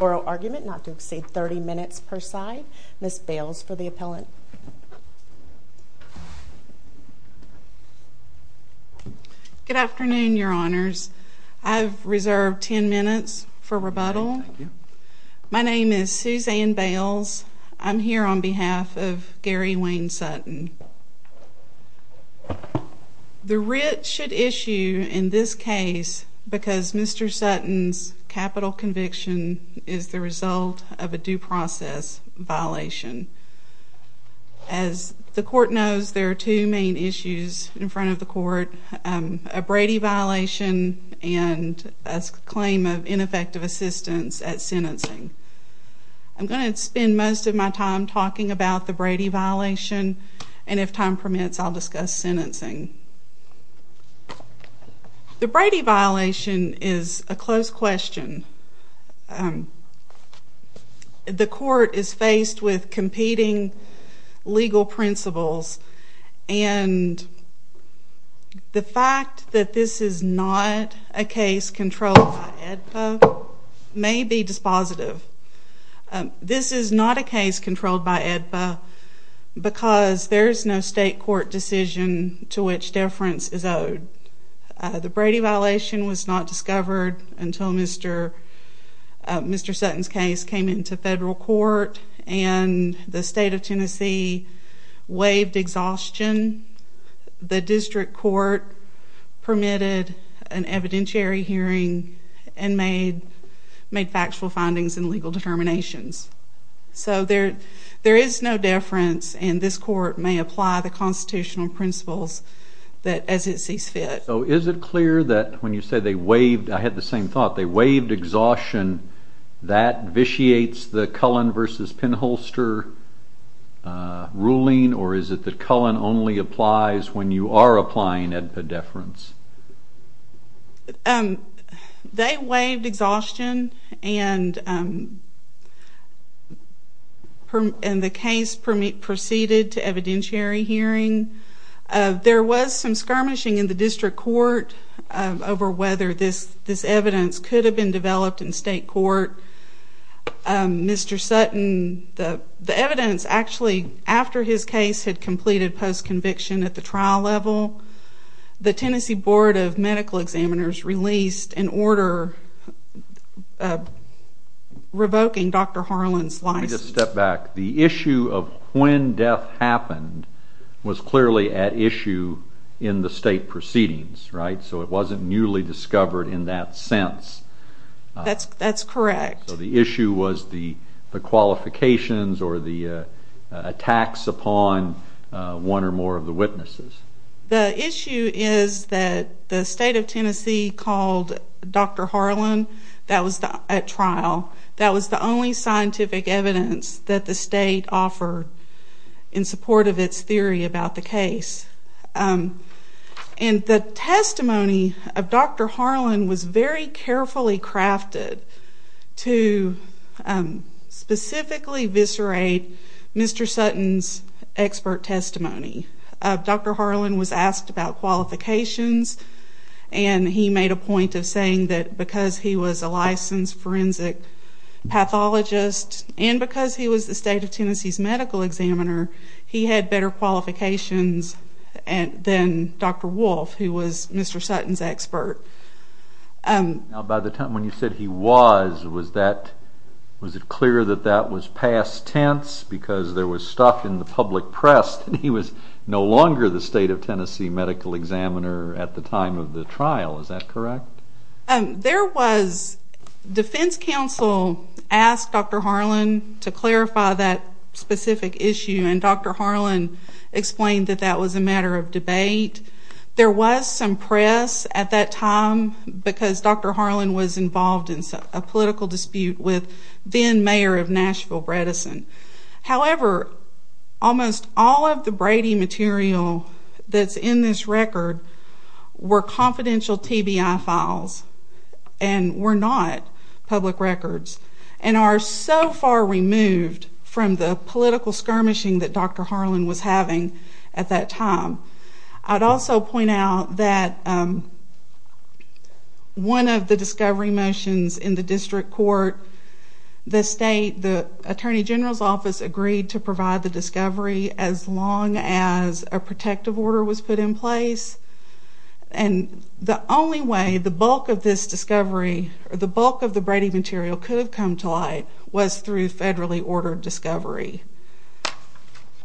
Oral argument not to exceed 30 minutes per side. Ms. Bales for the appellant. Good afternoon your honors. I've reserved 10 minutes for rebuttal. My name is Suzanne Bales. I'm here on behalf of Gary Wayne Sutton. The writ should issue in this case because Mr. Sutton's capital conviction is the result of a due process violation. As the court knows there are two main issues in front of the court. A Brady violation and a claim of ineffective assistance at sentencing. I'm going to spend most of my time talking about the Brady violation and if time permits I'll discuss sentencing. The Brady violation is a close question. The court is faced with competing legal principles and the fact that this is not a case controlled by AEDPA may be dispositive. This is not a case controlled by AEDPA because there is no state court decision to which deference is owed. The Brady violation was not discovered until Mr. Sutton's case came into federal court and the state of Tennessee waived exhaustion. The district court permitted an evidentiary hearing and made factual findings and legal determinations. There is no deference and this court may apply the constitutional principles as it sees fit. Is it clear that when you say they waived exhaustion that vitiates the Cullen v. Penholster ruling or is it that Cullen only applies when you are applying AEDPA deference? They waived exhaustion and the case proceeded to evidentiary hearing. There was some skirmishing in the district court over whether this evidence could have been developed in state court. Mr. Sutton, the evidence actually after his case had completed post-conviction at the trial level, the Tennessee Board of Medical Examiners released an order revoking Dr. Harlan's license. Let me just step back. The issue of when death happened was clearly at issue in the state proceedings, right? So it wasn't newly discovered in that sense. That's correct. So the issue was the qualifications or the attacks upon one or more of the witnesses. The issue is that the state of Tennessee called Dr. Harlan at trial. That was the only scientific evidence that the state offered in support of its theory about the case. The testimony of Dr. Harlan was very carefully crafted to specifically viscerate Mr. Sutton's expert testimony. Dr. Harlan was asked about qualifications and he made a point of saying that because he was a licensed forensic pathologist and because he was the state of Tennessee's medical examiner, he had better qualifications than Dr. Wolf, who was Mr. Sutton's expert. Now by the time when you said he was, was it clear that that was past tense because there was stuff in the public press that he was no longer the state of Tennessee medical examiner at the time of the trial? Is that correct? There was, defense counsel asked Dr. Harlan to clarify that specific issue and Dr. Harlan explained that that was a matter of debate. There was some press at that time because Dr. Harlan was involved in a political dispute with then mayor of Nashville, Bredesen. However, almost all of the Brady material that's in this record were confidential TBI files and were not public records and are so far removed from the political skirmishing that Dr. Harlan was having at that time. I'd also point out that one of the discovery motions in the district court, the state, the attorney general's office agreed to provide the discovery as long as a protective order was put in place. And the only way the bulk of this discovery, the bulk of the Brady material could have come to light was through federally ordered discovery.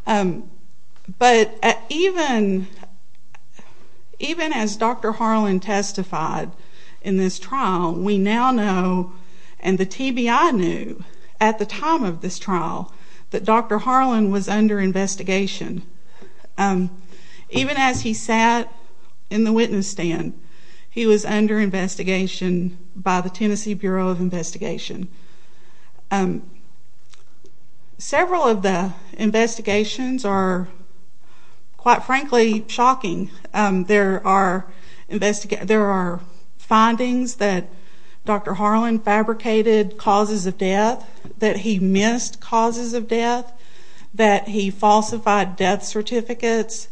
But even as Dr. Harlan testified in this trial, we now know and the TBI knew at the time of this trial that Dr. Harlan was under investigation. Even as he sat in the witness stand, he was under investigation by the Tennessee Bureau of Investigation. Several of the investigations are, quite frankly, shocking. There are findings that Dr. Harlan fabricated causes of death, that he missed causes of death, that he falsified death certificates.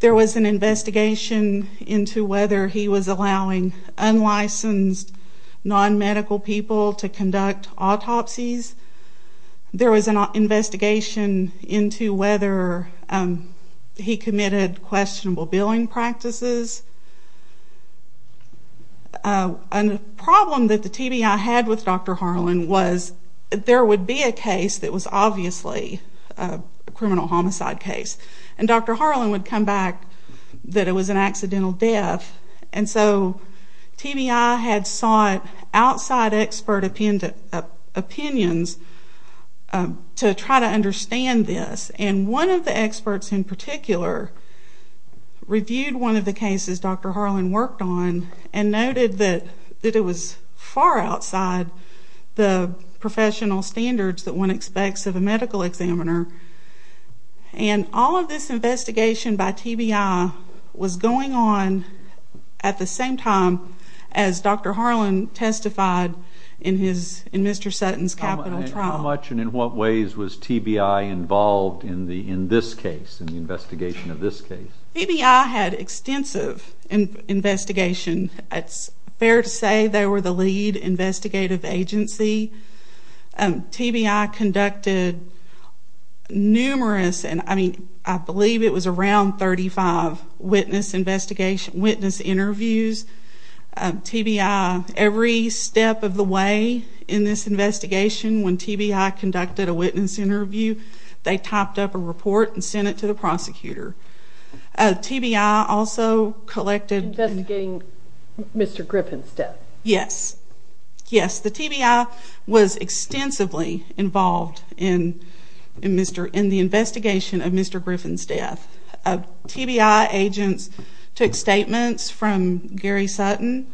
There was an investigation into whether he was allowing unlicensed non-medical people to conduct autopsies. There was an investigation into whether he committed questionable billing practices. A problem that the TBI had with Dr. Harlan was there would be a case that was obviously a criminal homicide case, and Dr. Harlan would come back that it was an accidental death. And so TBI had sought outside expert opinions to try to understand this. And one of the experts in particular reviewed one of the cases Dr. Harlan worked on and noted that it was far outside the professional standards that one expects of a medical examiner. And all of this investigation by TBI was going on at the same time as Dr. Harlan testified in Mr. Sutton's capital trial. How much and in what ways was TBI involved in this case, in the investigation of this case? TBI had extensive investigation. It's fair to say they were the lead investigative agency. TBI conducted numerous, and I believe it was around 35, witness interviews. TBI, every step of the way in this investigation, when TBI conducted a witness interview, they typed up a report and sent it to the prosecutor. TBI also collected... Investigating Mr. Griffin's death. Yes. Yes, the TBI was extensively involved in the investigation of Mr. Griffin's death. TBI agents took statements from Gary Sutton.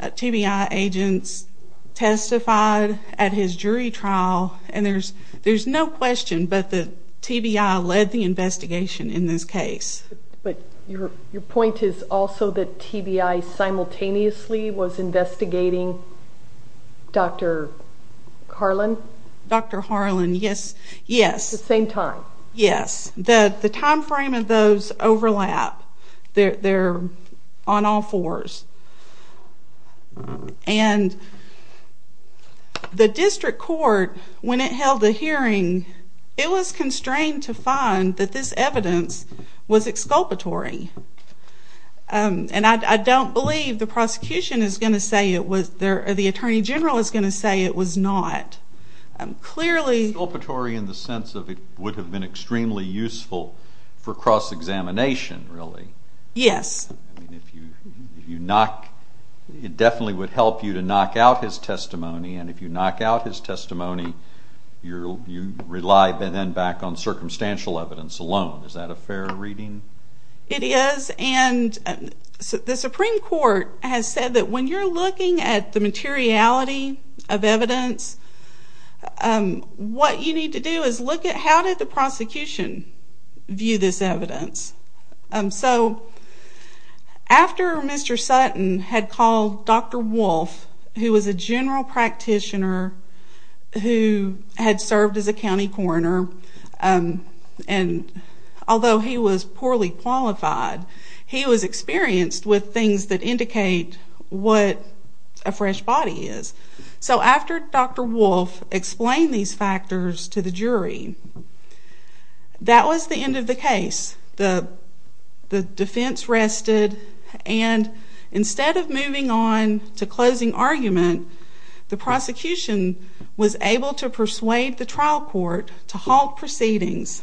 TBI agents testified at his jury trial. And there's no question, but the TBI led the investigation in this case. But your point is also that TBI simultaneously was investigating Dr. Harlan? Dr. Harlan, yes. Yes. At the same time? Yes. The time frame of those overlap. They're on all fours. And the district court, when it held the hearing, it was constrained to find that this evidence was exculpatory. And I don't believe the prosecution is going to say it was... the Attorney General is going to say it was not. Clearly... And extremely useful for cross-examination, really. Yes. I mean, if you knock... it definitely would help you to knock out his testimony. And if you knock out his testimony, you rely then back on circumstantial evidence alone. Is that a fair reading? It is. And the Supreme Court has said that when you're looking at the materiality of evidence, what you need to do is look at how did the prosecution view this evidence. So, after Mr. Sutton had called Dr. Wolfe, who was a general practitioner who had served as a county coroner, and although he was poorly qualified, he was experienced with things that indicate what a fresh body is. So, after Dr. Wolfe explained these factors to the jury, that was the end of the case. The defense rested, and instead of moving on to closing argument, the prosecution was able to persuade the trial court to halt proceedings.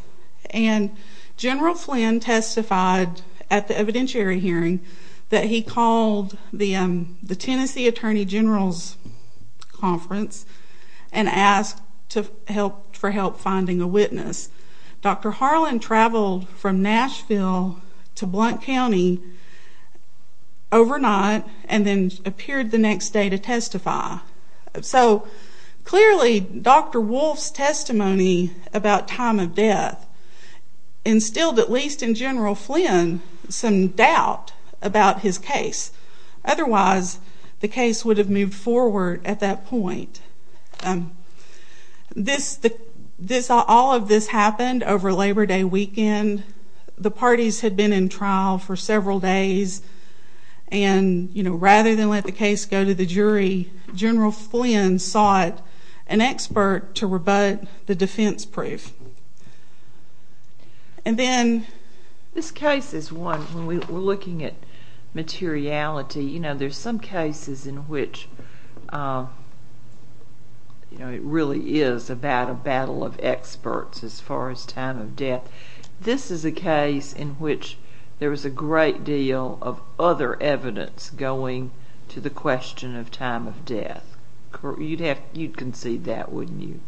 And General Flynn testified at the evidentiary hearing that he called the Tennessee Attorney General's conference and asked for help finding a witness. Dr. Harlan traveled from Nashville to Blount County overnight and then appeared the next day to testify. So, clearly, Dr. Wolfe's testimony about time of death instilled, at least in General Flynn, some doubt about his case. Otherwise, the case would have moved forward at that point. All of this happened over Labor Day weekend. The parties had been in trial for several days, and rather than let the case go to the jury, General Flynn sought an expert to rebut the defense brief. And then, this case is one, when we're looking at materiality, you know, there's some cases in which, you know, it really is about a battle of experts as far as time of death. This is a case in which there was a great deal of other evidence going to the question of time of death. You'd concede that, wouldn't you?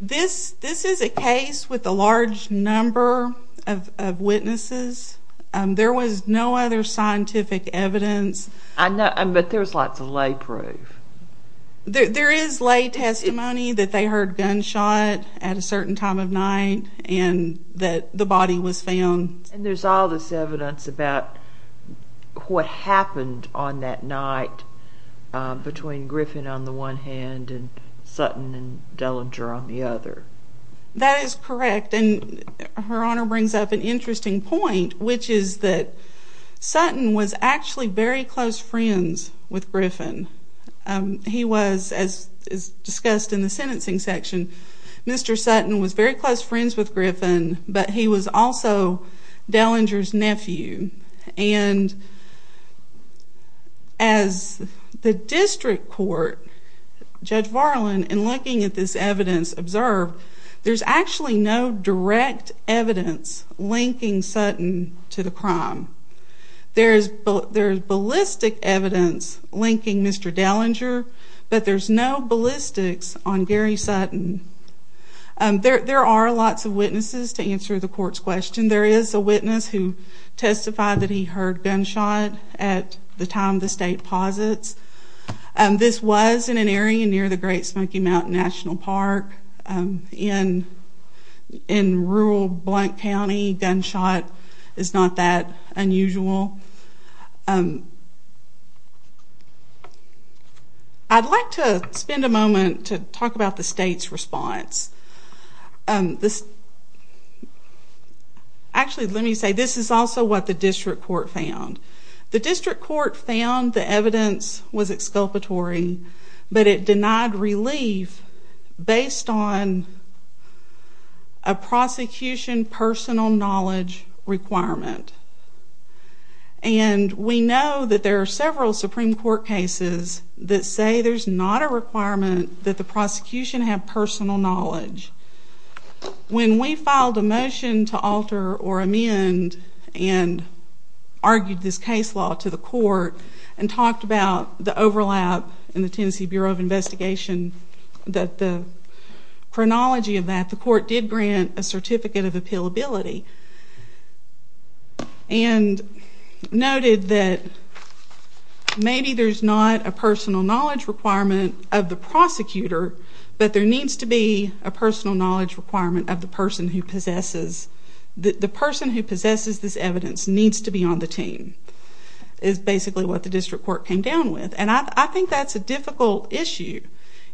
This is a case with a large number of witnesses. There was no other scientific evidence. I know, but there was lots of lay proof. There is lay testimony that they heard gunshot at a certain time of night and that the body was found. And there's all this evidence about what happened on that night between Griffin on the one hand and Sutton and Dellinger on the other. That is correct. And Her Honor brings up an interesting point, which is that Sutton was actually very close friends with Griffin. He was, as discussed in the sentencing section, Mr. Sutton was very close friends with Griffin, but he was also Dellinger's nephew. And as the district court, Judge Varlin, in looking at this evidence observed, there's actually no direct evidence linking Sutton to the crime. There's ballistic evidence linking Mr. Dellinger, but there's no ballistics on Gary Sutton. There are lots of witnesses to answer the court's question. There is a witness who testified that he heard gunshot at the time the state posits. This was in an area near the Great Smoky Mountain National Park in rural Blount County. Gunshot is not that unusual. I'd like to spend a moment to talk about the state's response. Actually, let me say, this is also what the district court found. The district court found the evidence was exculpatory, but it denied relief based on a prosecution personal knowledge requirement. And we know that there are several Supreme Court cases that say there's not a requirement that the prosecution have personal knowledge. When we filed a motion to alter or amend and argued this case law to the court and talked about the overlap in the Tennessee Bureau of Investigation, the chronology of that, the court did grant a certificate of appealability and noted that maybe there's not a personal knowledge requirement of the prosecutor, but there needs to be a personal knowledge requirement of the person who possesses. The person who possesses this evidence needs to be on the team is basically what the district court came down with. And I think that's a difficult issue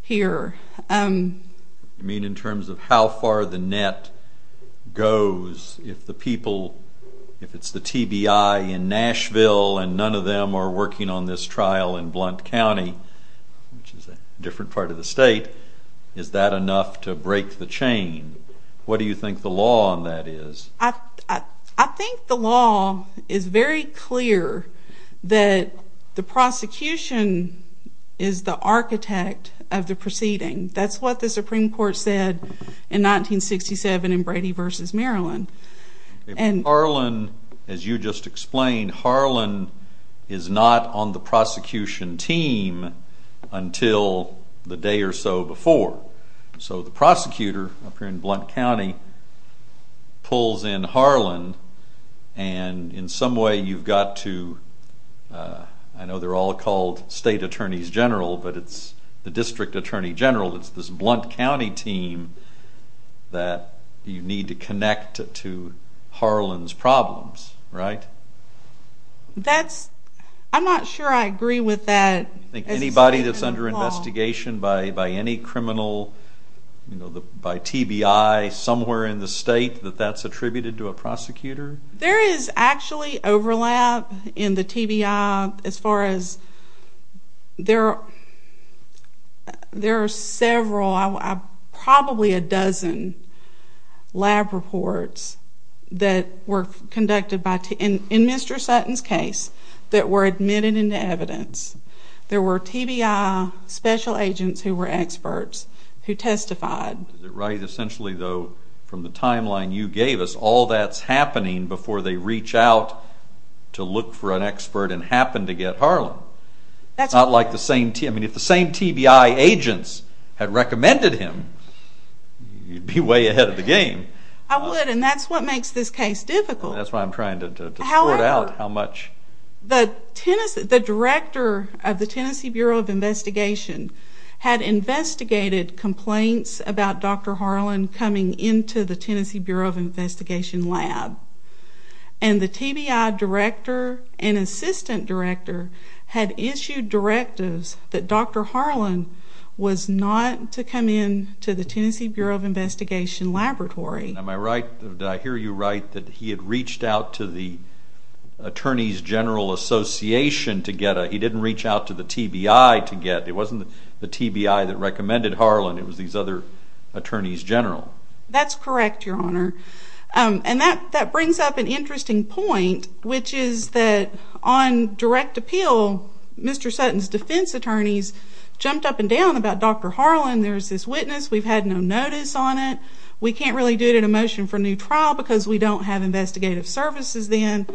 here. You mean in terms of how far the net goes if the people, if it's the TBI in Nashville and none of them are working on this trial in Blount County, which is a different part of the state, is that enough to break the chain? What do you think the law on that is? I think the law is very clear that the prosecution is the architect of the proceeding. That's what the Supreme Court said in 1967 in Brady v. Maryland. Harlan, as you just explained, Harlan is not on the prosecution team until the day or so before. So the prosecutor up here in Blount County pulls in Harlan and in some way you've got to, I know they're all called State Attorneys General, but it's the District Attorney General, it's this Blount County team that you need to connect to Harlan's problems, right? That's, I'm not sure I agree with that. Do you think anybody that's under investigation by any criminal, by TBI somewhere in the state, that that's attributed to a prosecutor? There is actually overlap in the TBI as far as, there are several, probably a dozen lab reports that were conducted by, in Mr. Sutton's case, that were admitted into evidence. There were TBI special agents who were experts who testified. Is it right, essentially though, from the timeline you gave us, all that's happening before they reach out to look for an expert and happen to get Harlan? That's right. It's not like the same, I mean if the same TBI agents had recommended him, you'd be way ahead of the game. I would, and that's what makes this case difficult. That's why I'm trying to sort out how much. The director of the Tennessee Bureau of Investigation had investigated complaints about Dr. Harlan coming into the Tennessee Bureau of Investigation lab. And the TBI director and assistant director had issued directives that Dr. Harlan was not to come into the Tennessee Bureau of Investigation laboratory. Am I right, did I hear you right, that he had reached out to the Attorneys General Association to get a, he didn't reach out to the TBI to get, it wasn't the TBI that recommended Harlan, it was these other Attorneys General. That's correct, Your Honor. And that brings up an interesting point, which is that on direct appeal, Mr. Sutton's defense attorneys jumped up and down about Dr. Harlan, there's this witness, we've had no notice on it, we can't really do it in a motion for new trial because we don't have investigative services then.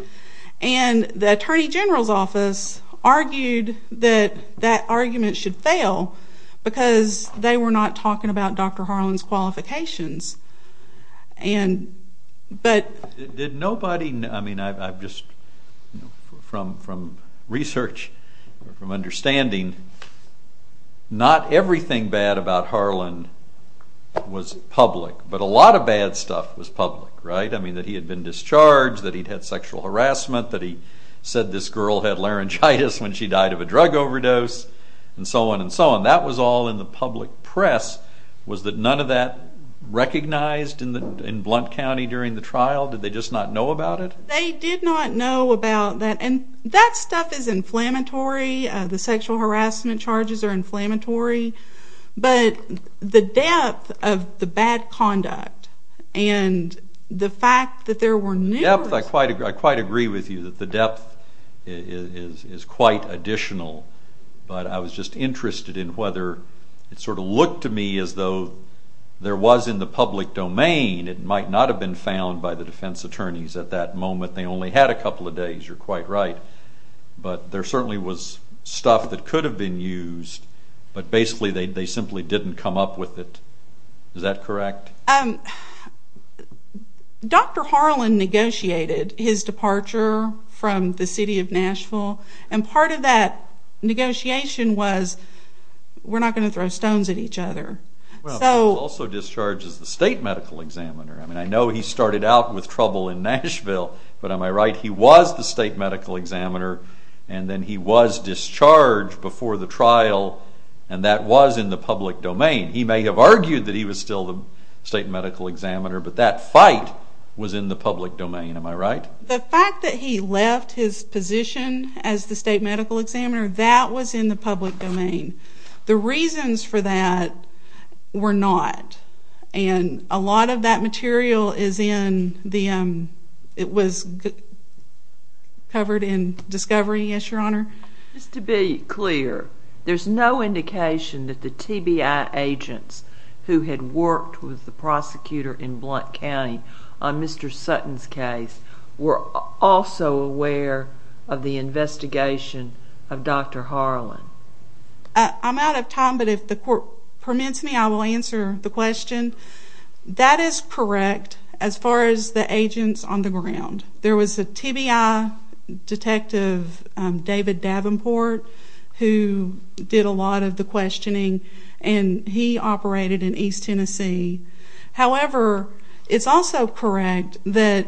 And the Attorney General's office argued that that argument should fail because they were not talking about Dr. Harlan's qualifications. Did nobody, I mean I've just, from research, from understanding, not everything bad about Harlan was public, but a lot of bad stuff was public, right? I mean that he had been discharged, that he'd had sexual harassment, that he said this girl had laryngitis when she died of a drug overdose, and so on and so on. That was all in the public press. Was none of that recognized in Blount County during the trial? Did they just not know about it? They did not know about that, and that stuff is inflammatory, the sexual harassment charges are inflammatory, but the depth of the bad conduct and the fact that there were numerous... I quite agree with you that the depth is quite additional, but I was just interested in whether it sort of looked to me as though there was in the public domain, it might not have been found by the defense attorneys at that moment, they only had a couple of days, you're quite right, but there certainly was stuff that could have been used, but basically they simply didn't come up with it. Is that correct? Dr. Harlan negotiated his departure from the city of Nashville, and part of that negotiation was we're not going to throw stones at each other. He was also discharged as the state medical examiner. I know he started out with trouble in Nashville, but am I right, he was the state medical examiner, and then he was discharged before the trial, and that was in the public domain. He may have argued that he was still the state medical examiner, but that fight was in the public domain, am I right? The fact that he left his position as the state medical examiner, that was in the public domain. The reasons for that were not, and a lot of that material was covered in Discovery, yes, Your Honor? Just to be clear, there's no indication that the TBI agents who had worked with the prosecutor in Blount County on Mr. Sutton's case were also aware of the investigation of Dr. Harlan? I'm out of time, but if the court permits me, I will answer the question. That is correct as far as the agents on the ground. There was a TBI detective, David Davenport, who did a lot of the questioning, and he operated in East Tennessee. However, it's also correct that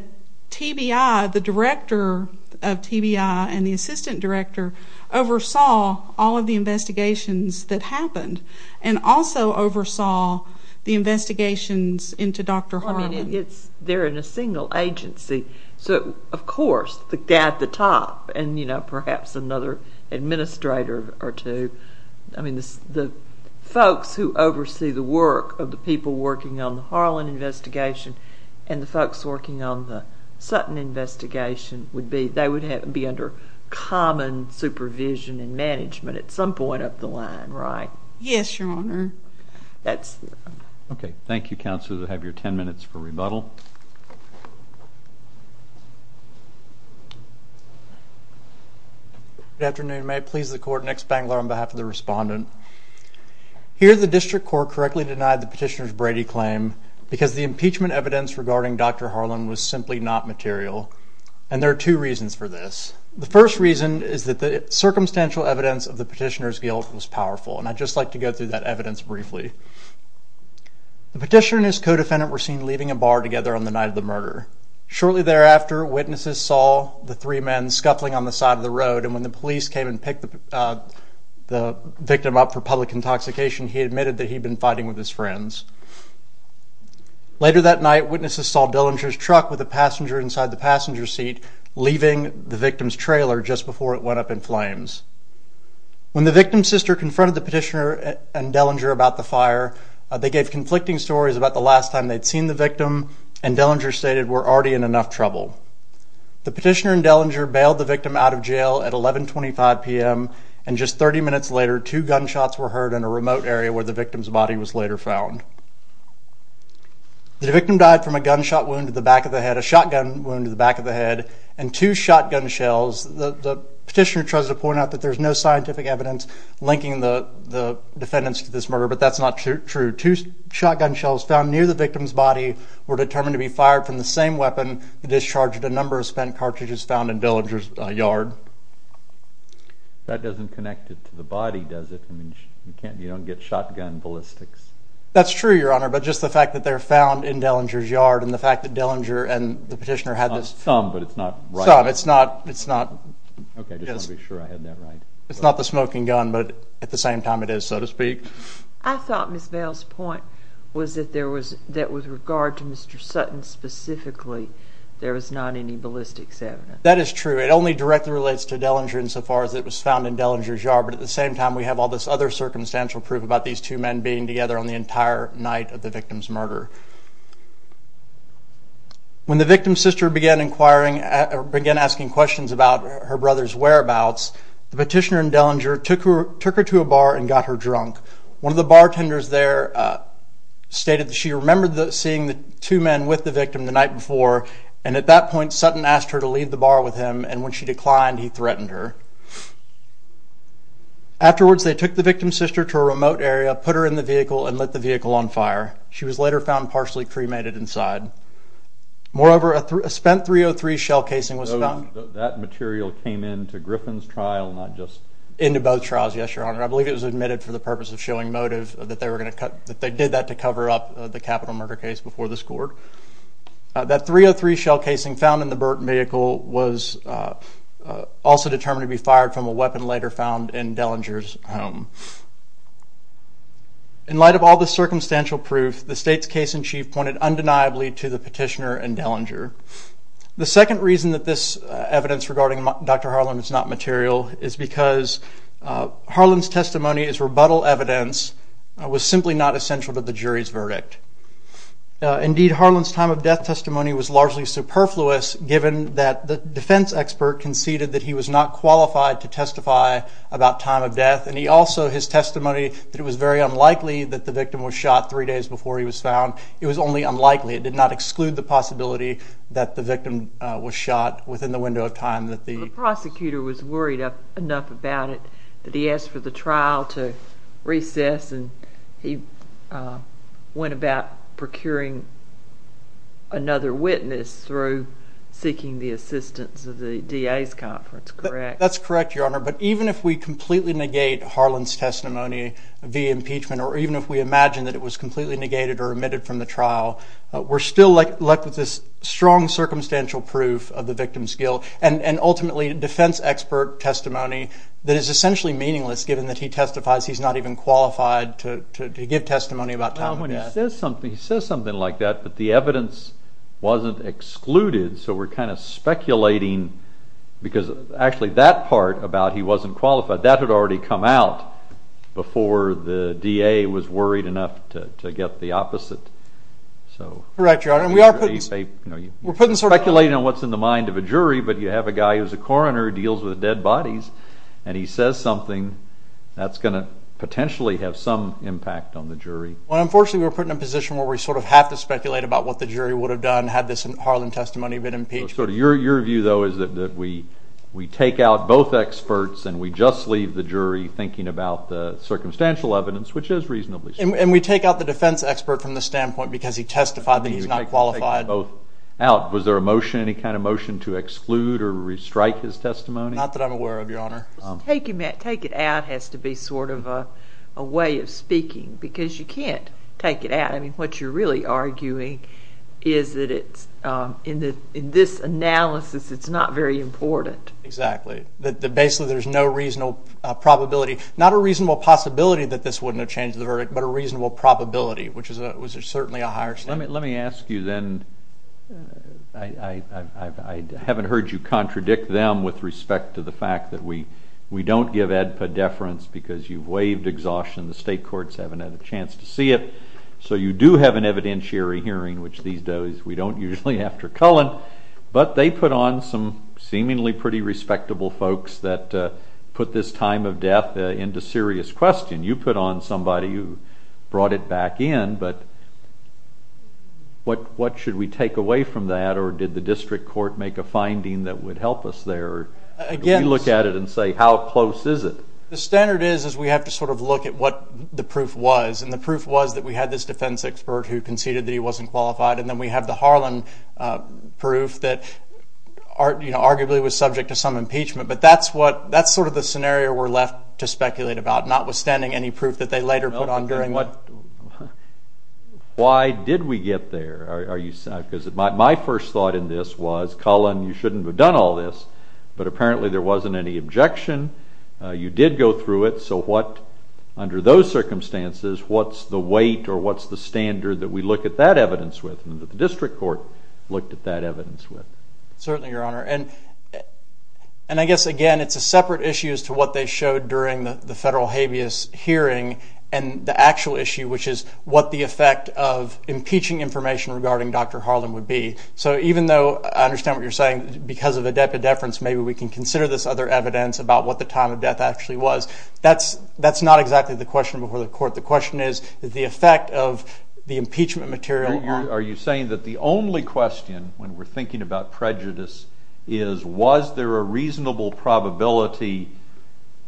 TBI, the director of TBI and the assistant director, oversaw all of the investigations that happened, and also oversaw the investigations into Dr. Harlan. They're in a single agency, so of course, the guy at the top, and perhaps another administrator or two, the folks who oversee the work of the people working on the Harlan investigation and the folks working on the Sutton investigation, they would be under common supervision and management at some point up the line, right? Yes, Your Honor. Okay. Thank you, Counselors. I'll have your 10 minutes for rebuttal. Good afternoon. May it please the Court? Nick Spangler on behalf of the Respondent. Here, the District Court correctly denied the petitioner's Brady claim because the impeachment evidence regarding Dr. Harlan was simply not material, and there are two reasons for this. The first reason is that the circumstantial evidence of the petitioner's guilt was powerful, and I'd just like to go through that evidence briefly. The petitioner and his co-defendant were seen leaving a bar together on the night of the murder. Shortly thereafter, witnesses saw the three men scuffling on the side of the road, and when the police came and picked the victim up for public intoxication, he admitted that he'd been fighting with his friends. Later that night, witnesses saw Dillinger's truck with a passenger inside the passenger seat leaving the victim's trailer just before it went up in flames. When the victim's sister confronted the petitioner and Dillinger about the fire, they gave conflicting stories about the last time they'd seen the victim, and Dillinger stated, we're already in enough trouble. The petitioner and Dillinger bailed the victim out of jail at 1125 p.m., and just 30 minutes later, two gunshots were heard in a remote area where the victim's body was later found. The victim died from a gunshot wound to the back of the head, a shotgun wound to the back of the head, and two shotgun shells. The petitioner tries to point out that there's no scientific evidence linking the defendants to this murder, but that's not true. Two shotgun shells found near the victim's body were determined to be fired from the same weapon that discharged a number of spent cartridges found in Dillinger's yard. That doesn't connect it to the body, does it? I mean, you don't get shotgun ballistics. That's true, Your Honor, but just the fact that they're found in Dillinger's yard and the fact that Dillinger and the petitioner had this. Some, but it's not right. Some. It's not. It's not. Okay, I just want to be sure I had that right. It's not the smoking gun, but at the same time it is, so to speak. I thought Ms. Bales' point was that there was, that with regard to Mr. Sutton specifically, there was not any ballistics evidence. That is true. It only directly relates to Dillinger insofar as it was found in Dillinger's yard, but at the same time we have all this other circumstantial proof about these two men being together on the entire night of the victim's murder. When the victim's sister began inquiring, began asking questions about her brother's whereabouts, the petitioner in Dillinger took her to a bar and got her drunk. One of the bartenders there stated that she remembered seeing the two men with the victim the night before, and at that point Sutton asked her to leave the bar with him, and when she declined, he threatened her. Afterwards, they took the victim's sister to a remote area, put her in the vehicle, and lit the vehicle on fire. She was later found partially cremated inside. Moreover, a spent .303 shell casing was found. That material came into Griffin's trial, not just? Into both trials, yes, Your Honor. I believe it was admitted for the purpose of showing motive that they were going to cut, that they did that to cover up the capital murder case before the court. That .303 shell casing found in the Burton vehicle was also determined to be fired from a weapon later found in Dillinger's home. In light of all the circumstantial proof, the state's case in chief pointed undeniably to the petitioner in Dillinger. The second reason that this evidence regarding Dr. Harlan is not material is because Harlan's testimony as rebuttal evidence was simply not essential to the jury's verdict. Indeed, Harlan's time of death testimony was largely superfluous given that the defense expert conceded that he was not qualified to testify about time of death and also his testimony that it was very unlikely that the victim was shot three days before he was found. It was only unlikely. It did not exclude the possibility that the victim was shot within the window of time. The prosecutor was worried enough about it that he asked for the trial to recess and he went about procuring another witness through seeking the assistance of the DA's conference, correct? That's correct, Your Honor. But even if we completely negate Harlan's testimony via impeachment or even if we imagine that it was completely negated or omitted from the trial, we're still left with this strong circumstantial proof of the victim's guilt and ultimately defense expert testimony that is essentially meaningless given that he testifies he's not even qualified to give testimony about time of death. He says something like that but the evidence wasn't excluded so we're kind of speculating because actually that part about he wasn't qualified, that had already come out before the DA was worried enough to get the opposite. Correct, Your Honor. You're speculating on what's in the mind of a jury but you have a guy who's a coroner who deals with dead bodies and he says something that's going to potentially have some impact on the jury. Well unfortunately we're put in a position where we sort of have to speculate about what the jury would have done had this Harlan testimony been impeached. So your view though is that we take out both experts and we just leave the jury thinking about the circumstantial evidence which is reasonably so. And we take out the defense expert from the standpoint because he testified that he's not qualified. Was there a motion, any kind of motion to exclude or re-strike his testimony? Not that I'm aware of, Your Honor. Take it out has to be sort of a way of speaking because you can't take it out. I mean what you're really arguing is that in this analysis it's not very important. Exactly. Basically there's no reasonable probability, not a reasonable possibility that this wouldn't have changed the verdict but a reasonable probability which is certainly a higher standard. Let me ask you then, I haven't heard you contradict them with respect to the fact that we don't give EDPA deference because you've waived exhaustion, the state courts haven't had a chance to see it. So you do have an evidentiary hearing which these days we don't usually after Cullen but they put on some seemingly pretty respectable folks that put this time of death into serious question. You put on somebody who brought it back in but what should we take away from that or did the district court make a finding that would help us there? Can we look at it and say how close is it? The standard is we have to sort of look at what the proof was and the proof was that we had this defense expert who conceded that he wasn't qualified and then we have the Harlan proof that arguably was subject to some impeachment but that's sort of the scenario we're left to speculate about notwithstanding any proof that they later put on. Why did we get there? My first thought in this was Cullen you shouldn't have done all this but apparently there wasn't any objection, you did go through it so under those circumstances what's the weight or what's the standard that we look at that evidence with and that the district court looked at that evidence with? Certainly your honor and I guess again it's a separate issue as to what they showed during the federal habeas hearing and the actual issue which is what the effect of impeaching information regarding Dr. Harlan would be so even though I understand what you're saying because of the depideference maybe we can consider this other evidence about what the time of death actually was that's not exactly the question before the court. The question is the effect of the impeachment material. Are you saying that the only question when we're thinking about prejudice is was there a reasonable probability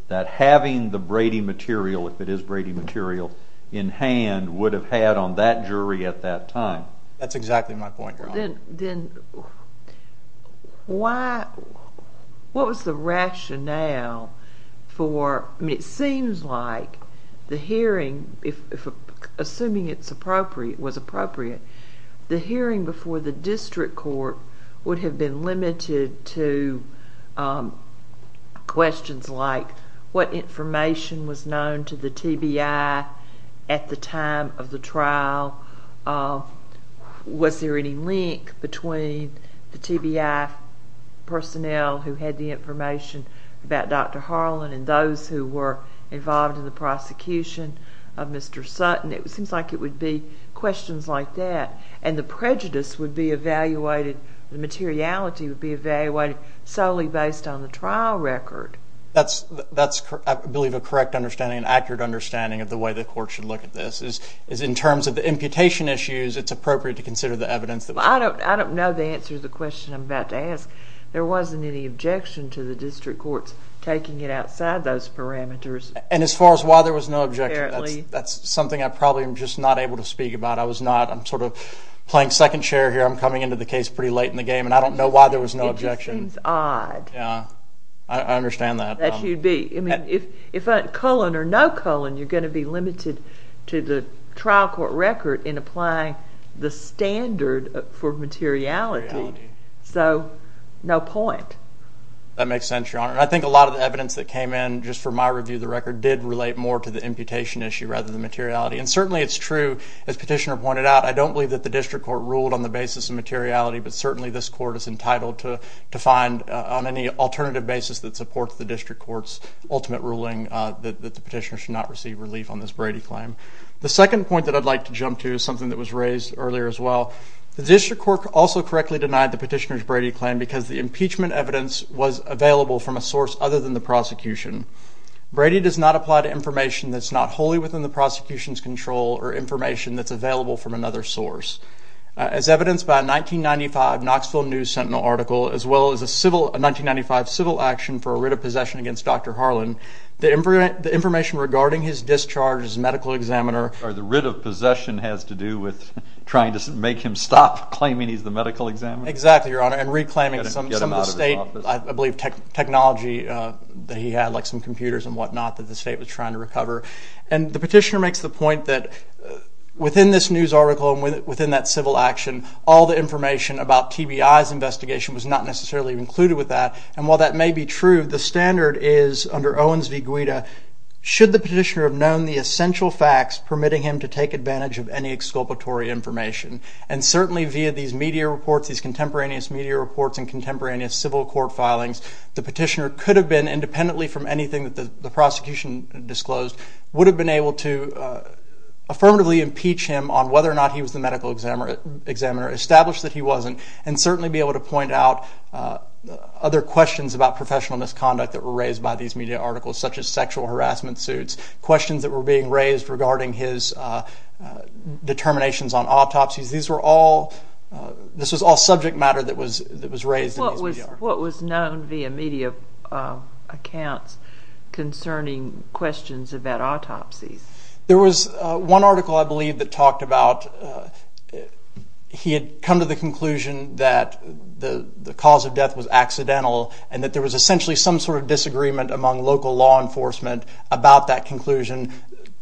that having the Brady material if it is Brady material in hand would have had on that jury at that time? Then what was the rationale for it seems like the hearing assuming it was appropriate the hearing before the district court would have been limited to questions like what information was known to the TBI at the time of the trial was there any link between the TBI personnel who had the information about Dr. Harlan and those who were involved in the prosecution of Mr. Sutton it seems like it would be questions like that and the prejudice would be evaluated the materiality would be evaluated solely based on the trial record. That's I believe a correct understanding an accurate understanding of the way the court should look at this is in terms of the imputation issues it's appropriate to consider the evidence. I don't know the answer to the question I'm about to ask. There wasn't any objection to the district courts taking it outside those parameters. And as far as why there was no objection that's something I'm probably just not able to speak about. I was not I'm sort of playing second chair here I'm coming into the case pretty late in the game and I don't know why there was no objection. It just seems odd. I understand that. If a colon or no colon you're going to be limited to the trial court record in applying the standard for materiality. So no point. That makes sense your honor. I think a lot of the evidence that came in just for my review of the record did relate more to the imputation issue rather than materiality. And certainly it's true as petitioner pointed out I don't believe that the district court ruled on the basis of materiality but certainly this court is entitled to find on any alternative basis that supports the district court's ultimate ruling that the petitioner should not receive relief on this Brady claim. The second point that I'd like to jump to is something that was raised earlier as well. The district court also correctly denied the petitioner's Brady claim because the impeachment evidence was available from a source other than the prosecution. Brady does not apply to information that's not wholly within the prosecution's control or information that's available from another source. As evidenced by a 1995 Knoxville News Sentinel article as well as a 1995 civil action for a writ of possession against Dr. Harlan, the information regarding his discharge as medical examiner or the writ of possession has to do with trying to make him stop claiming he's the medical examiner? Exactly your honor and reclaiming some of the state I believe technology that he had like some computers and what not that the state was trying to recover. And the petitioner makes the point that within this news article and within that civil action all the information about TBI's investigation was not necessarily included with that. And while that may be true the standard is under Owens v. Guida should the petitioner have known the essential facts permitting him to take advantage of any exculpatory information. And certainly via these media reports, these contemporaneous media reports and contemporaneous civil court filings the petitioner could have been independently from anything that the prosecution disclosed would have been able to affirmatively impeach him on whether or not he was the medical examiner, establish that he wasn't and certainly be able to point out other questions about professional misconduct that were raised by these media articles such as sexual harassment suits, questions that were being raised regarding his determinations on autopsies. These were all, this was all subject matter that was raised. What was known via media accounts concerning questions about autopsies? There was one article I believe that talked about he had come to the conclusion that the cause of death was accidental and that there was essentially some sort of disagreement among local law enforcement about that conclusion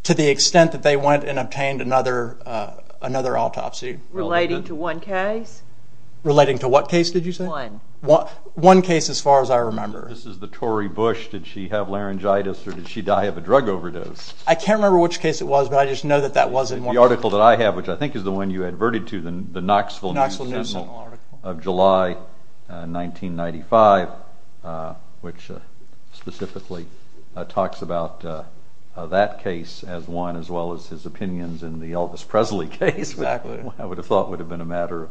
to the extent that they went and obtained another autopsy. Relating to one case? Relating to what case did you say? One. One case as far as I remember. This is the Tory Bush, did she have laryngitis or did she die of a drug overdose? I can't remember which case it was, but I just know that that was it. The article that I have, which I think is the one you adverted to, the Knoxville News Sentinel of July 1995, which specifically talks about that case as one as well as his opinions in the Elvis Presley case, which I would have thought would have been a matter of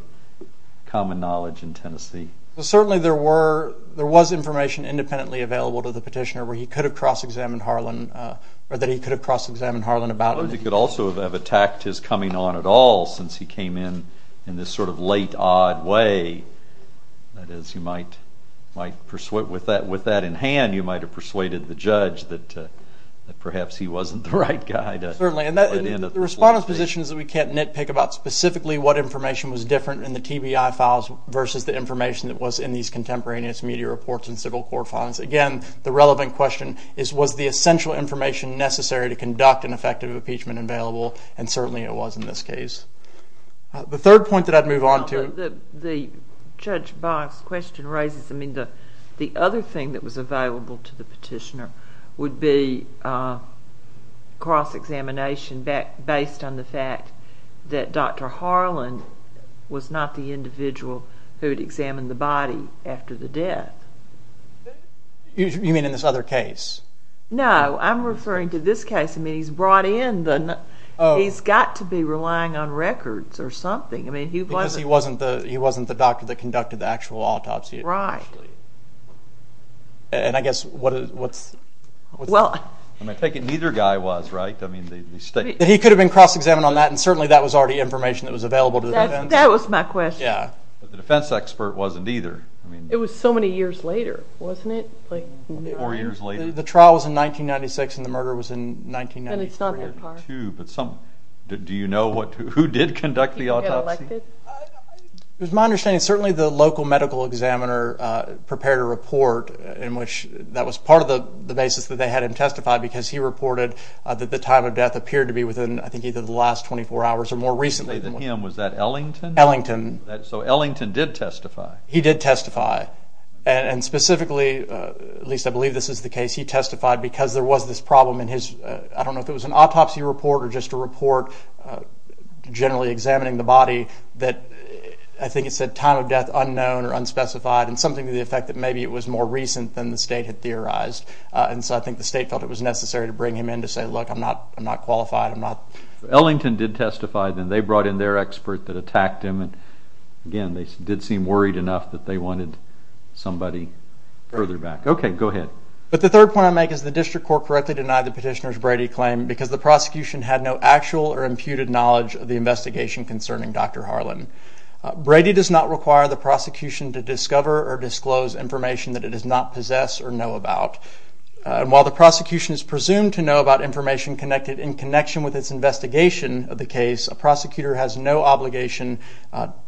common knowledge in Tennessee. Certainly there was information independently available to the petitioner where he could have cross-examined Harlan or that he could have cross-examined Harlan. He could also have attacked his coming on at all since he came in in this sort of late, odd way. That is, with that in hand, you might have persuaded the judge that perhaps he wasn't the right guy to let in at this point. Certainly, and the respondents' positions that we can't nitpick about, specifically what information was different in the TBI files versus the information that was in these contemporaneous media reports and civil court files. Again, the relevant question is, was the essential information necessary to conduct an effective impeachment available? Certainly it was in this case. The third point that I would move on to... The other thing that was available to the petitioner would be cross-examination based on the fact that Dr. Harlan was not the individual who would examine the body after the death. You mean in this other case? No, I'm referring to this case. I mean, he's brought in the... He's got to be relying on records or something. Because he wasn't the doctor that conducted the actual autopsy. Right. And I guess, what's... Well... I take it neither guy was, right? He could have been cross-examined on that and certainly that was already information that was available to the defense. That was my question. Yeah. But the defense expert wasn't either. It was so many years later, wasn't it? Four years later. The trial was in 1996 and the murder was in 1994. And it's not that far. Do you know who did conduct the autopsy? It was my understanding, certainly the local medical examiner prepared a report in which that was part of the basis that they had him testify because he reported that the time of death appeared to be within, I think, either the last 24 hours or more recently. Was that Ellington? Ellington. So Ellington did testify. He did testify. And specifically, at least I believe this is the case, he testified because there was this problem in his... I don't know if it was an autopsy report or just a report generally examining the body that, I think it said, time of death unknown or unspecified and something to the effect that maybe it was more recent than the state had theorized. And so I think the state felt it was necessary to bring him in to say, look, I'm not qualified, I'm not... Ellington did testify then. They brought in their expert that attacked him. Again, they did seem worried enough that they wanted somebody further back. Okay, go ahead. But the third point I make is the district court correctly denied the petitioner's Brady claim because the prosecution had no actual or imputed knowledge of the investigation concerning Dr. Harlan. Brady does not require the prosecution to discover or disclose information that it does not possess or know about. And while the prosecution is presumed to know about information connected in connection with its investigation of the case, a prosecutor has no obligation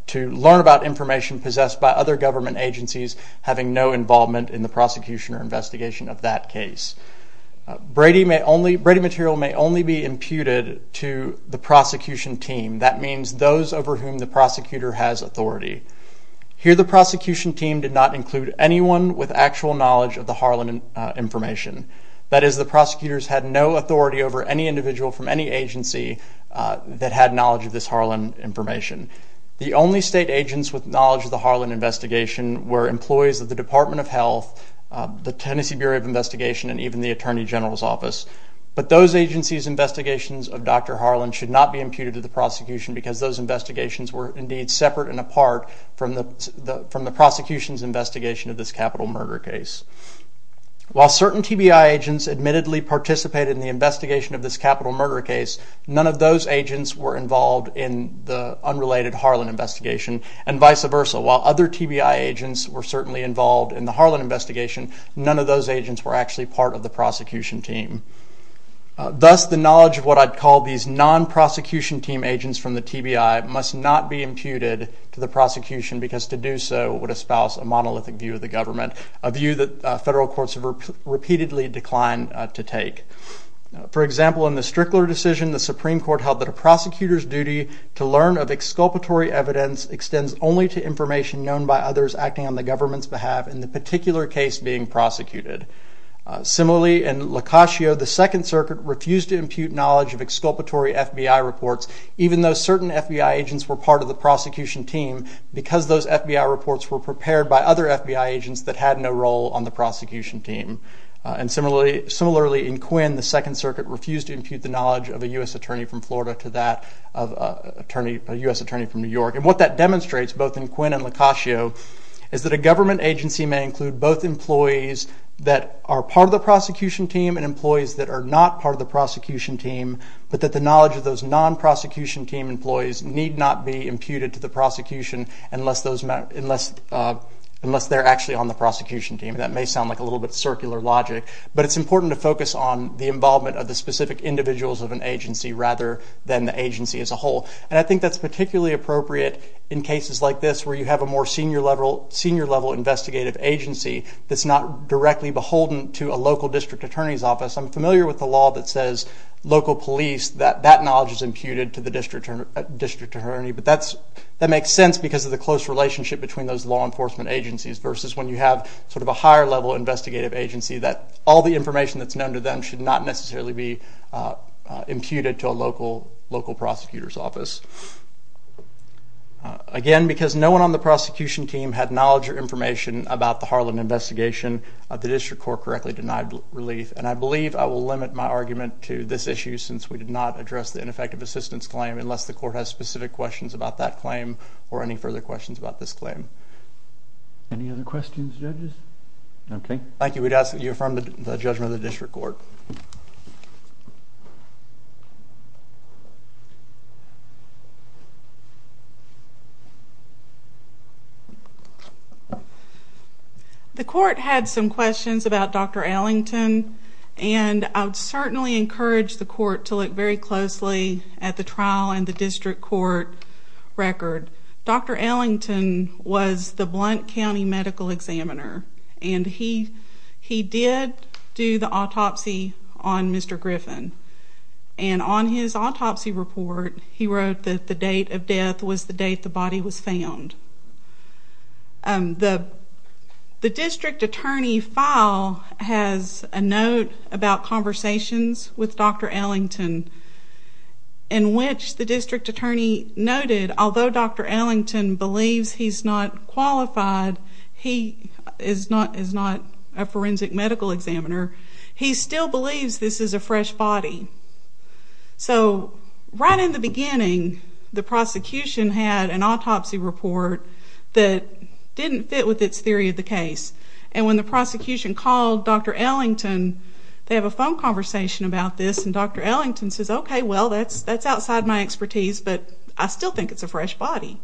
to learn about information possessed by other government agencies having no involvement in the prosecution or investigation of that case. Brady material may only be imputed to the prosecution team. That means those over whom the prosecutor has authority. Here the prosecution team did not include anyone with actual knowledge of the Harlan information. That is, the prosecutors had no authority over any individual from any agency that had knowledge of this Harlan information. The only state agents with knowledge of the Harlan investigation were employees of the Department of Health, the Tennessee Bureau of Investigation, and even the Attorney General's Office. But those agencies' investigations of Dr. Harlan should not be imputed to the prosecution because those investigations were indeed separate and apart from the prosecution's investigation of this capital murder case. While certain TBI agents admittedly participated in the investigation of this capital murder case, none of those agents were involved in the unrelated Harlan investigation, and vice versa. While other TBI agents were certainly involved in the Harlan investigation, none of those agents were actually part of the prosecution team. Thus, the knowledge of what I'd call these non-prosecution team agents from the TBI must not be imputed to the prosecution because to do so would espouse a monolithic view of the government, a view that federal courts have repeatedly declined to take. For example, in the Strickler decision, the Supreme Court held that a prosecutor's duty to learn of exculpatory evidence extends only to information known by others acting on the government's behalf in the particular case being prosecuted. Similarly, in Locascio, the Second Circuit refused to impute knowledge of exculpatory FBI reports, even though certain FBI agents were part of the prosecution team because those FBI reports were prepared by other FBI agents that had no role on the prosecution team. Similarly, in Quinn, the Second Circuit refused to impute the knowledge of a U.S. attorney from Florida to that of a U.S. attorney from New York. What that demonstrates, both in Quinn and Locascio, is that a government agency may include both employees that are part of the prosecution team and employees that are not part of the prosecution team, but that the knowledge of those non-prosecution team employees need not be imputed to the prosecution unless they're actually on the prosecution team. That may sound like a little bit of circular logic, but it's important to focus on the involvement of the specific individuals of an agency rather than the agency as a whole. And I think that's particularly appropriate in cases like this where you have a more senior-level investigative agency that's not directly beholden to a local district attorney's office. I'm familiar with the law that says local police, that that knowledge is imputed to the district attorney, but that makes sense because of the close relationship between those law enforcement agencies versus when you have sort of a higher-level investigative agency that all the information that's known to them should not necessarily be imputed to a local prosecutor's office. Again, because no one on the prosecution team had knowledge or information about the Harlan investigation, the district court correctly denied relief. And I believe I will limit my argument to this issue since we did not address the ineffective assistance claim unless the court has specific questions about that claim or any further questions about this claim. Any other questions, judges? Okay. Thank you. We'd ask that you affirm the judgment of the district court. The court had some questions about Dr. Ellington, and I would certainly encourage the court to look very closely at the trial and the district court record. Dr. Ellington was the Blount County medical examiner, and he did do the autopsy on Mr. Griffin. And on his autopsy report, he wrote that the date of death was the date the body was found. The district attorney file has a note about conversations with Dr. Ellington in which the district attorney noted although Dr. Ellington believes he's not qualified, he is not a forensic medical examiner, he still believes this is a fresh body. So right in the beginning, the prosecution had an autopsy report that didn't fit with its theory of the case. And when the prosecution called Dr. Ellington, they have a phone conversation about this, and Dr. Ellington says, okay, well, that's outside my expertise, but I still think it's a fresh body.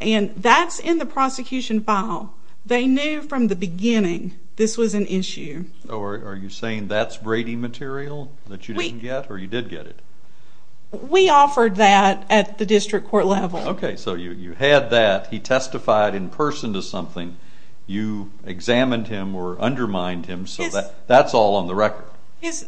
And that's in the prosecution file. They knew from the beginning this was an issue. Are you saying that's Brady material that you didn't get, or you did get it? We offered that at the district court level. Okay, so you had that. He testified in person to something. You examined him or undermined him, so that's all on the record.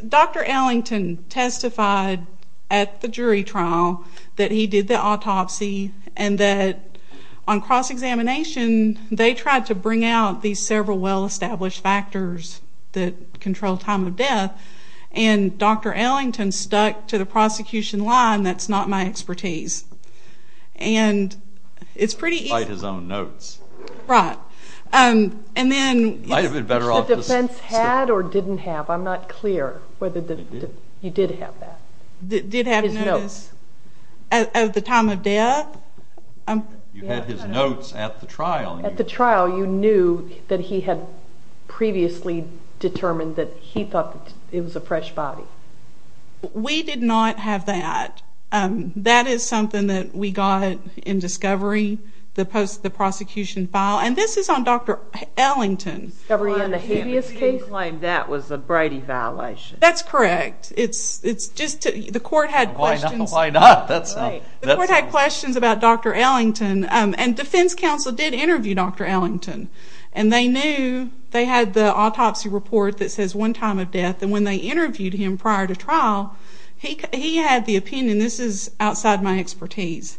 Dr. Ellington testified at the jury trial that he did the autopsy and that on cross-examination, they tried to bring out these several well-established factors that control time of death, and Dr. Ellington stuck to the prosecution line, that's not my expertise. And it's pretty easy. He might have his own notes. Right. The defense had or didn't have, I'm not clear, whether you did have that. Did have notes. Of the time of death. You had his notes at the trial. At the trial you knew that he had previously determined that he thought it was a fresh body. We did not have that. That is something that we got in discovery, the prosecution file, and this is on Dr. Ellington. In the habeas case? You claim that was a Brady violation. That's correct. The court had questions. Why not? The court had questions about Dr. Ellington, and defense counsel did interview Dr. Ellington, and they knew they had the autopsy report that says one time of death, and when they interviewed him prior to trial, he had the opinion, this is outside my expertise.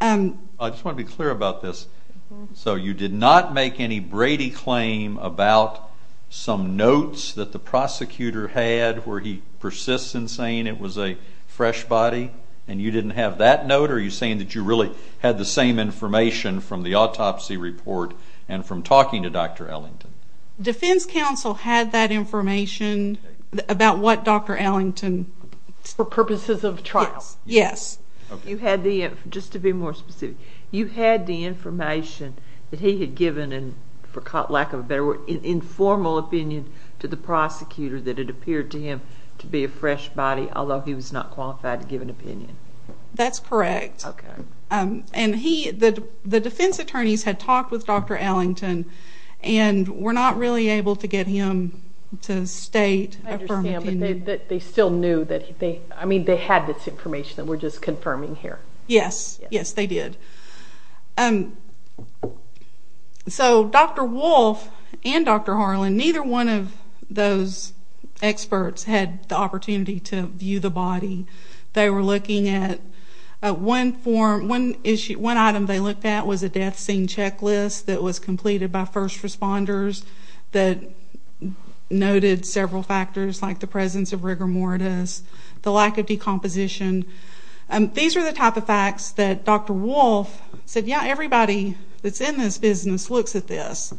I just want to be clear about this. So you did not make any Brady claim about some notes that the prosecutor had where he persists in saying it was a fresh body, and you didn't have that note, or are you saying that you really had the same information from the autopsy report and from talking to Dr. Ellington? Defense counsel had that information about what Dr. Ellington. For purposes of trial. Yes. You had the, just to be more specific, you had the information that he had given, and for lack of a better word, an informal opinion to the prosecutor that it appeared to him to be a fresh body, although he was not qualified to give an opinion. That's correct. Okay. And the defense attorneys had talked with Dr. Ellington and were not really able to get him to state a firm opinion. I understand, but they still knew that they had this information that we're just confirming here. Yes. Yes, they did. So Dr. Wolfe and Dr. Harlan, neither one of those experts had the opportunity to view the body. They were looking at one form, one item they looked at was a death scene checklist that was completed by first responders that noted several factors like the presence of rigor mortis, the lack of decomposition. These are the type of facts that Dr. Wolfe said, yeah, everybody that's in this business looks at this,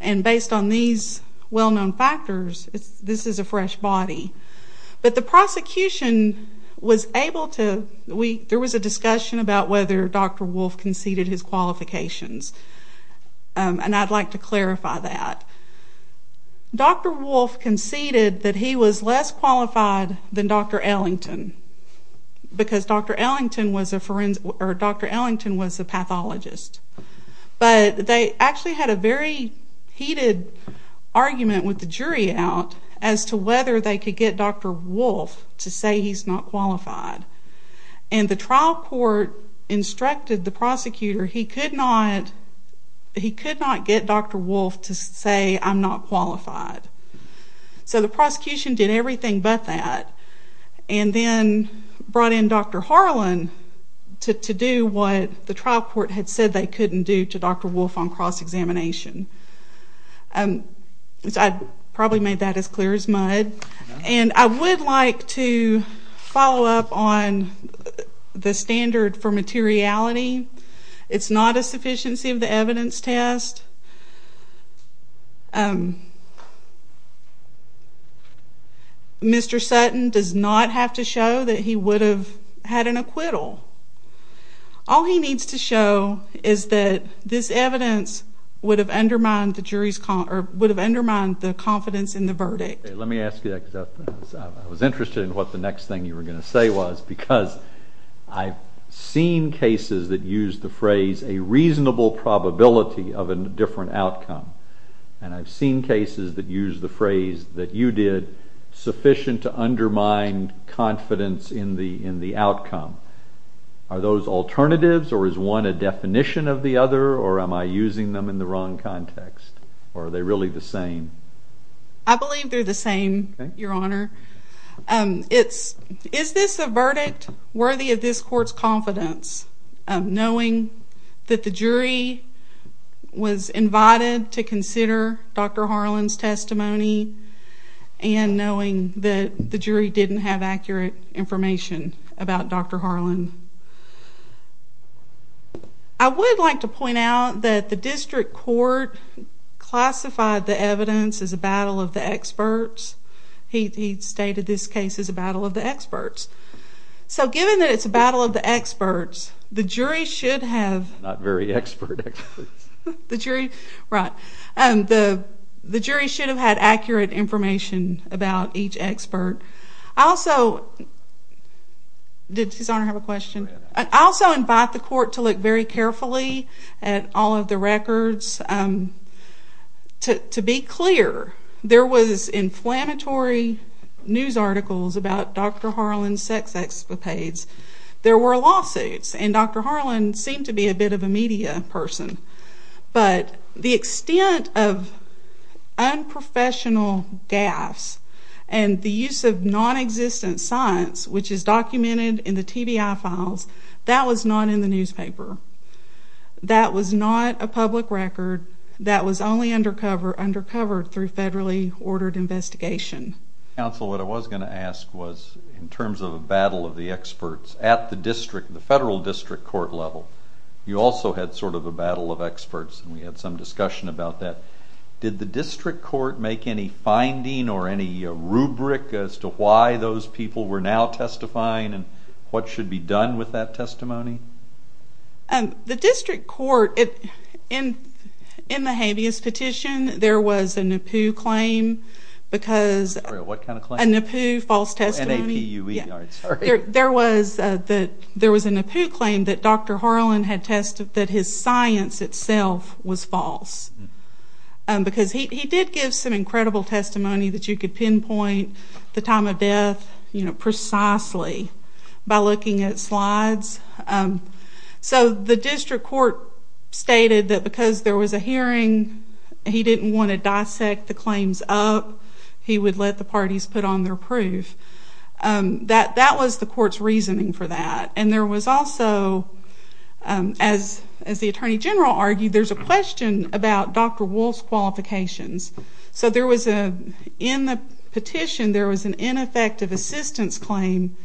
and based on these well-known factors, this is a fresh body. But the prosecution was able to, there was a discussion about whether Dr. Wolfe conceded his qualifications, and I'd like to clarify that. Dr. Wolfe conceded that he was less qualified than Dr. Ellington because Dr. Ellington was a pathologist. But they actually had a very heated argument with the jury out as to whether they could get Dr. Wolfe to say he's not qualified. And the trial court instructed the prosecutor he could not get Dr. Wolfe to say I'm not qualified. So the prosecution did everything but that and then brought in Dr. Harlan to do what the trial court had said they couldn't do to Dr. Wolfe on cross-examination. I probably made that as clear as mud. And I would like to follow up on the standard for materiality. It's not a sufficiency of the evidence test. Mr. Sutton does not have to show that he would have had an acquittal. All he needs to show is that this evidence would have undermined the confidence in the verdict. Let me ask you that because I was interested in what the next thing you were going to say was because I've seen cases that use the phrase a reasonable probability of a different outcome, and I've seen cases that use the phrase that you did sufficient to undermine confidence in the outcome. Are those alternatives or is one a definition of the other or am I using them in the wrong context or are they really the same? I believe they're the same, Your Honor. Is this a verdict worthy of this court's confidence, knowing that the jury was invited to consider Dr. Harlan's testimony and knowing that the jury didn't have accurate information about Dr. Harlan? I would like to point out that the district court classified the evidence as a battle of the experts. He stated this case as a battle of the experts. So given that it's a battle of the experts, the jury should have— Not very expert experts. Right. The jury should have had accurate information about each expert. I also—did His Honor have a question? I also invite the court to look very carefully at all of the records. To be clear, there was inflammatory news articles about Dr. Harlan's sex excapades. There were lawsuits, and Dr. Harlan seemed to be a bit of a media person, but the extent of unprofessional gaffes and the use of nonexistent science, which is documented in the TBI files, that was not in the newspaper. That was not a public record. That was only undercover through federally ordered investigation. Counsel, what I was going to ask was in terms of a battle of the experts at the federal district court level, you also had sort of a battle of experts, and we had some discussion about that. Did the district court make any finding or any rubric as to why those people were now testifying and what should be done with that testimony? The district court, in the habeas petition, there was a NAPU claim because— Sorry, what kind of claim? A NAPU false testimony. Oh, N-A-P-U-E. Sorry. There was a NAPU claim that Dr. Harlan had tested that his science itself was false because he did give some incredible testimony that you could pinpoint the time of death precisely by looking at slides. So the district court stated that because there was a hearing, he didn't want to dissect the claims up. He would let the parties put on their proof. That was the court's reasoning for that. And there was also, as the attorney general argued, there's a question about Dr. Wolfe's qualifications. So in the petition, there was an ineffective assistance claim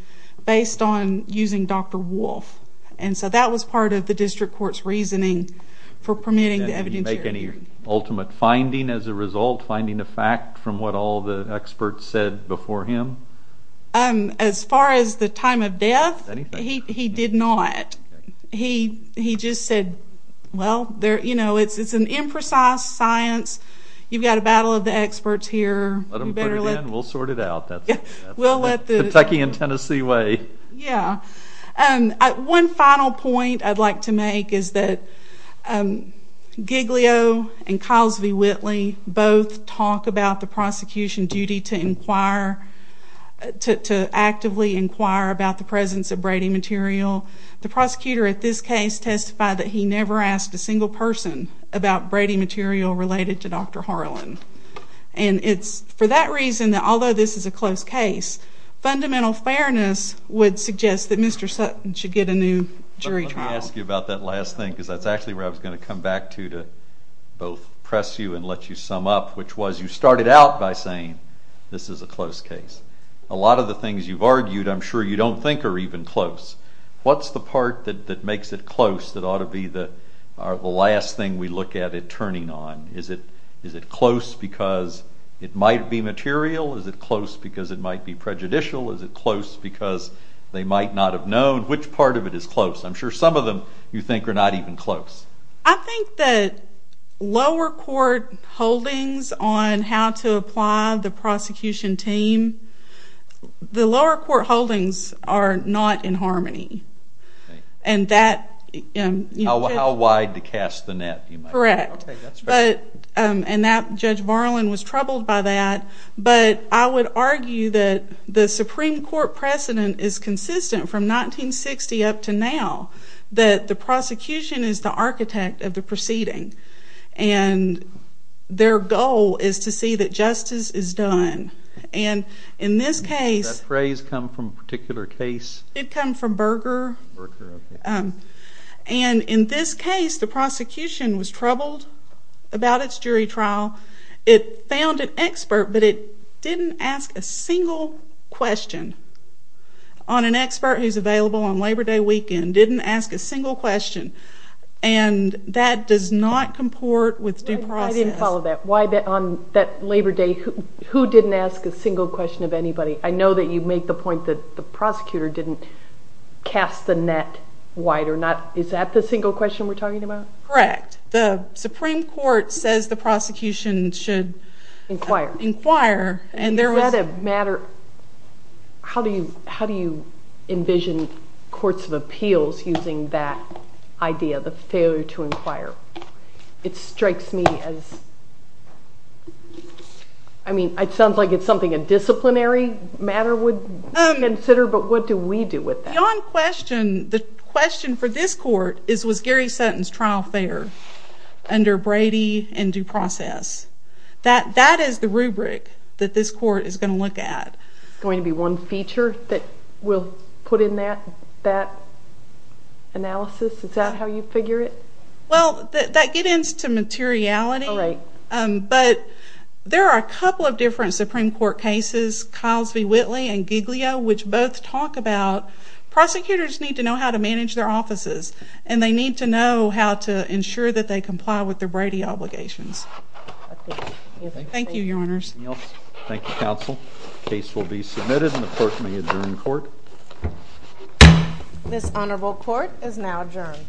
based on using Dr. Wolfe. And so that was part of the district court's reasoning for permitting the evidentiary hearing. Did he make any ultimate finding as a result, finding a fact from what all the experts said before him? As far as the time of death, he did not. He just said, well, it's an imprecise science. You've got a battle of the experts here. Let them put it in. We'll sort it out. That's the Kentucky and Tennessee way. Yeah. One final point I'd like to make is that Giglio and Kyles v. Whitley both talk about the prosecution duty to actively inquire about the presence of Brady material. The prosecutor at this case testified that he never asked a single person about Brady material related to Dr. Harlan. And it's for that reason that although this is a close case, fundamental fairness would suggest that Mr. Sutton should get a new jury trial. Let me ask you about that last thing because that's actually where I was going to come back to to both press you and let you sum up, which was you started out by saying this is a close case. A lot of the things you've argued I'm sure you don't think are even close. What's the part that makes it close that ought to be the last thing we look at it turning on? Is it close because it might be material? Is it close because it might be prejudicial? Is it close because they might not have known? Which part of it is close? I'm sure some of them you think are not even close. I think that lower court holdings on how to apply the prosecution team, the lower court holdings are not in harmony. How wide to cast the net? Correct. And Judge Marlin was troubled by that. But I would argue that the Supreme Court precedent is consistent from 1960 up to now, that the prosecution is the architect of the proceeding. And their goal is to see that justice is done. And in this case... Does that phrase come from a particular case? It comes from Berger. And in this case, the prosecution was troubled about its jury trial. It found an expert, but it didn't ask a single question on an expert who's available on Labor Day weekend, didn't ask a single question. And that does not comport with due process. I didn't follow that. On that Labor Day, who didn't ask a single question of anybody? I know that you make the point that the prosecutor didn't cast the net wider. Is that the single question we're talking about? Correct. The Supreme Court says the prosecution should inquire. Is that a matter... How do you envision courts of appeals using that idea, the failure to inquire? It strikes me as... I mean, it sounds like it's something a disciplinary matter would consider, but what do we do with that? Beyond question, the question for this court is, was Gary Sutton's trial fair under Brady and due process? That is the rubric that this court is going to look at. Going to be one feature that we'll put in that analysis? Is that how you figure it? Well, that gets into materiality. But there are a couple of different Supreme Court cases, Kyles v. Whitley and Giglio, which both talk about prosecutors need to know how to manage their offices, and they need to know how to ensure that they comply with their Brady obligations. Thank you, Your Honors. Anything else? Thank you, Counsel. The case will be submitted and the clerk may adjourn court. This honorable court is now adjourned.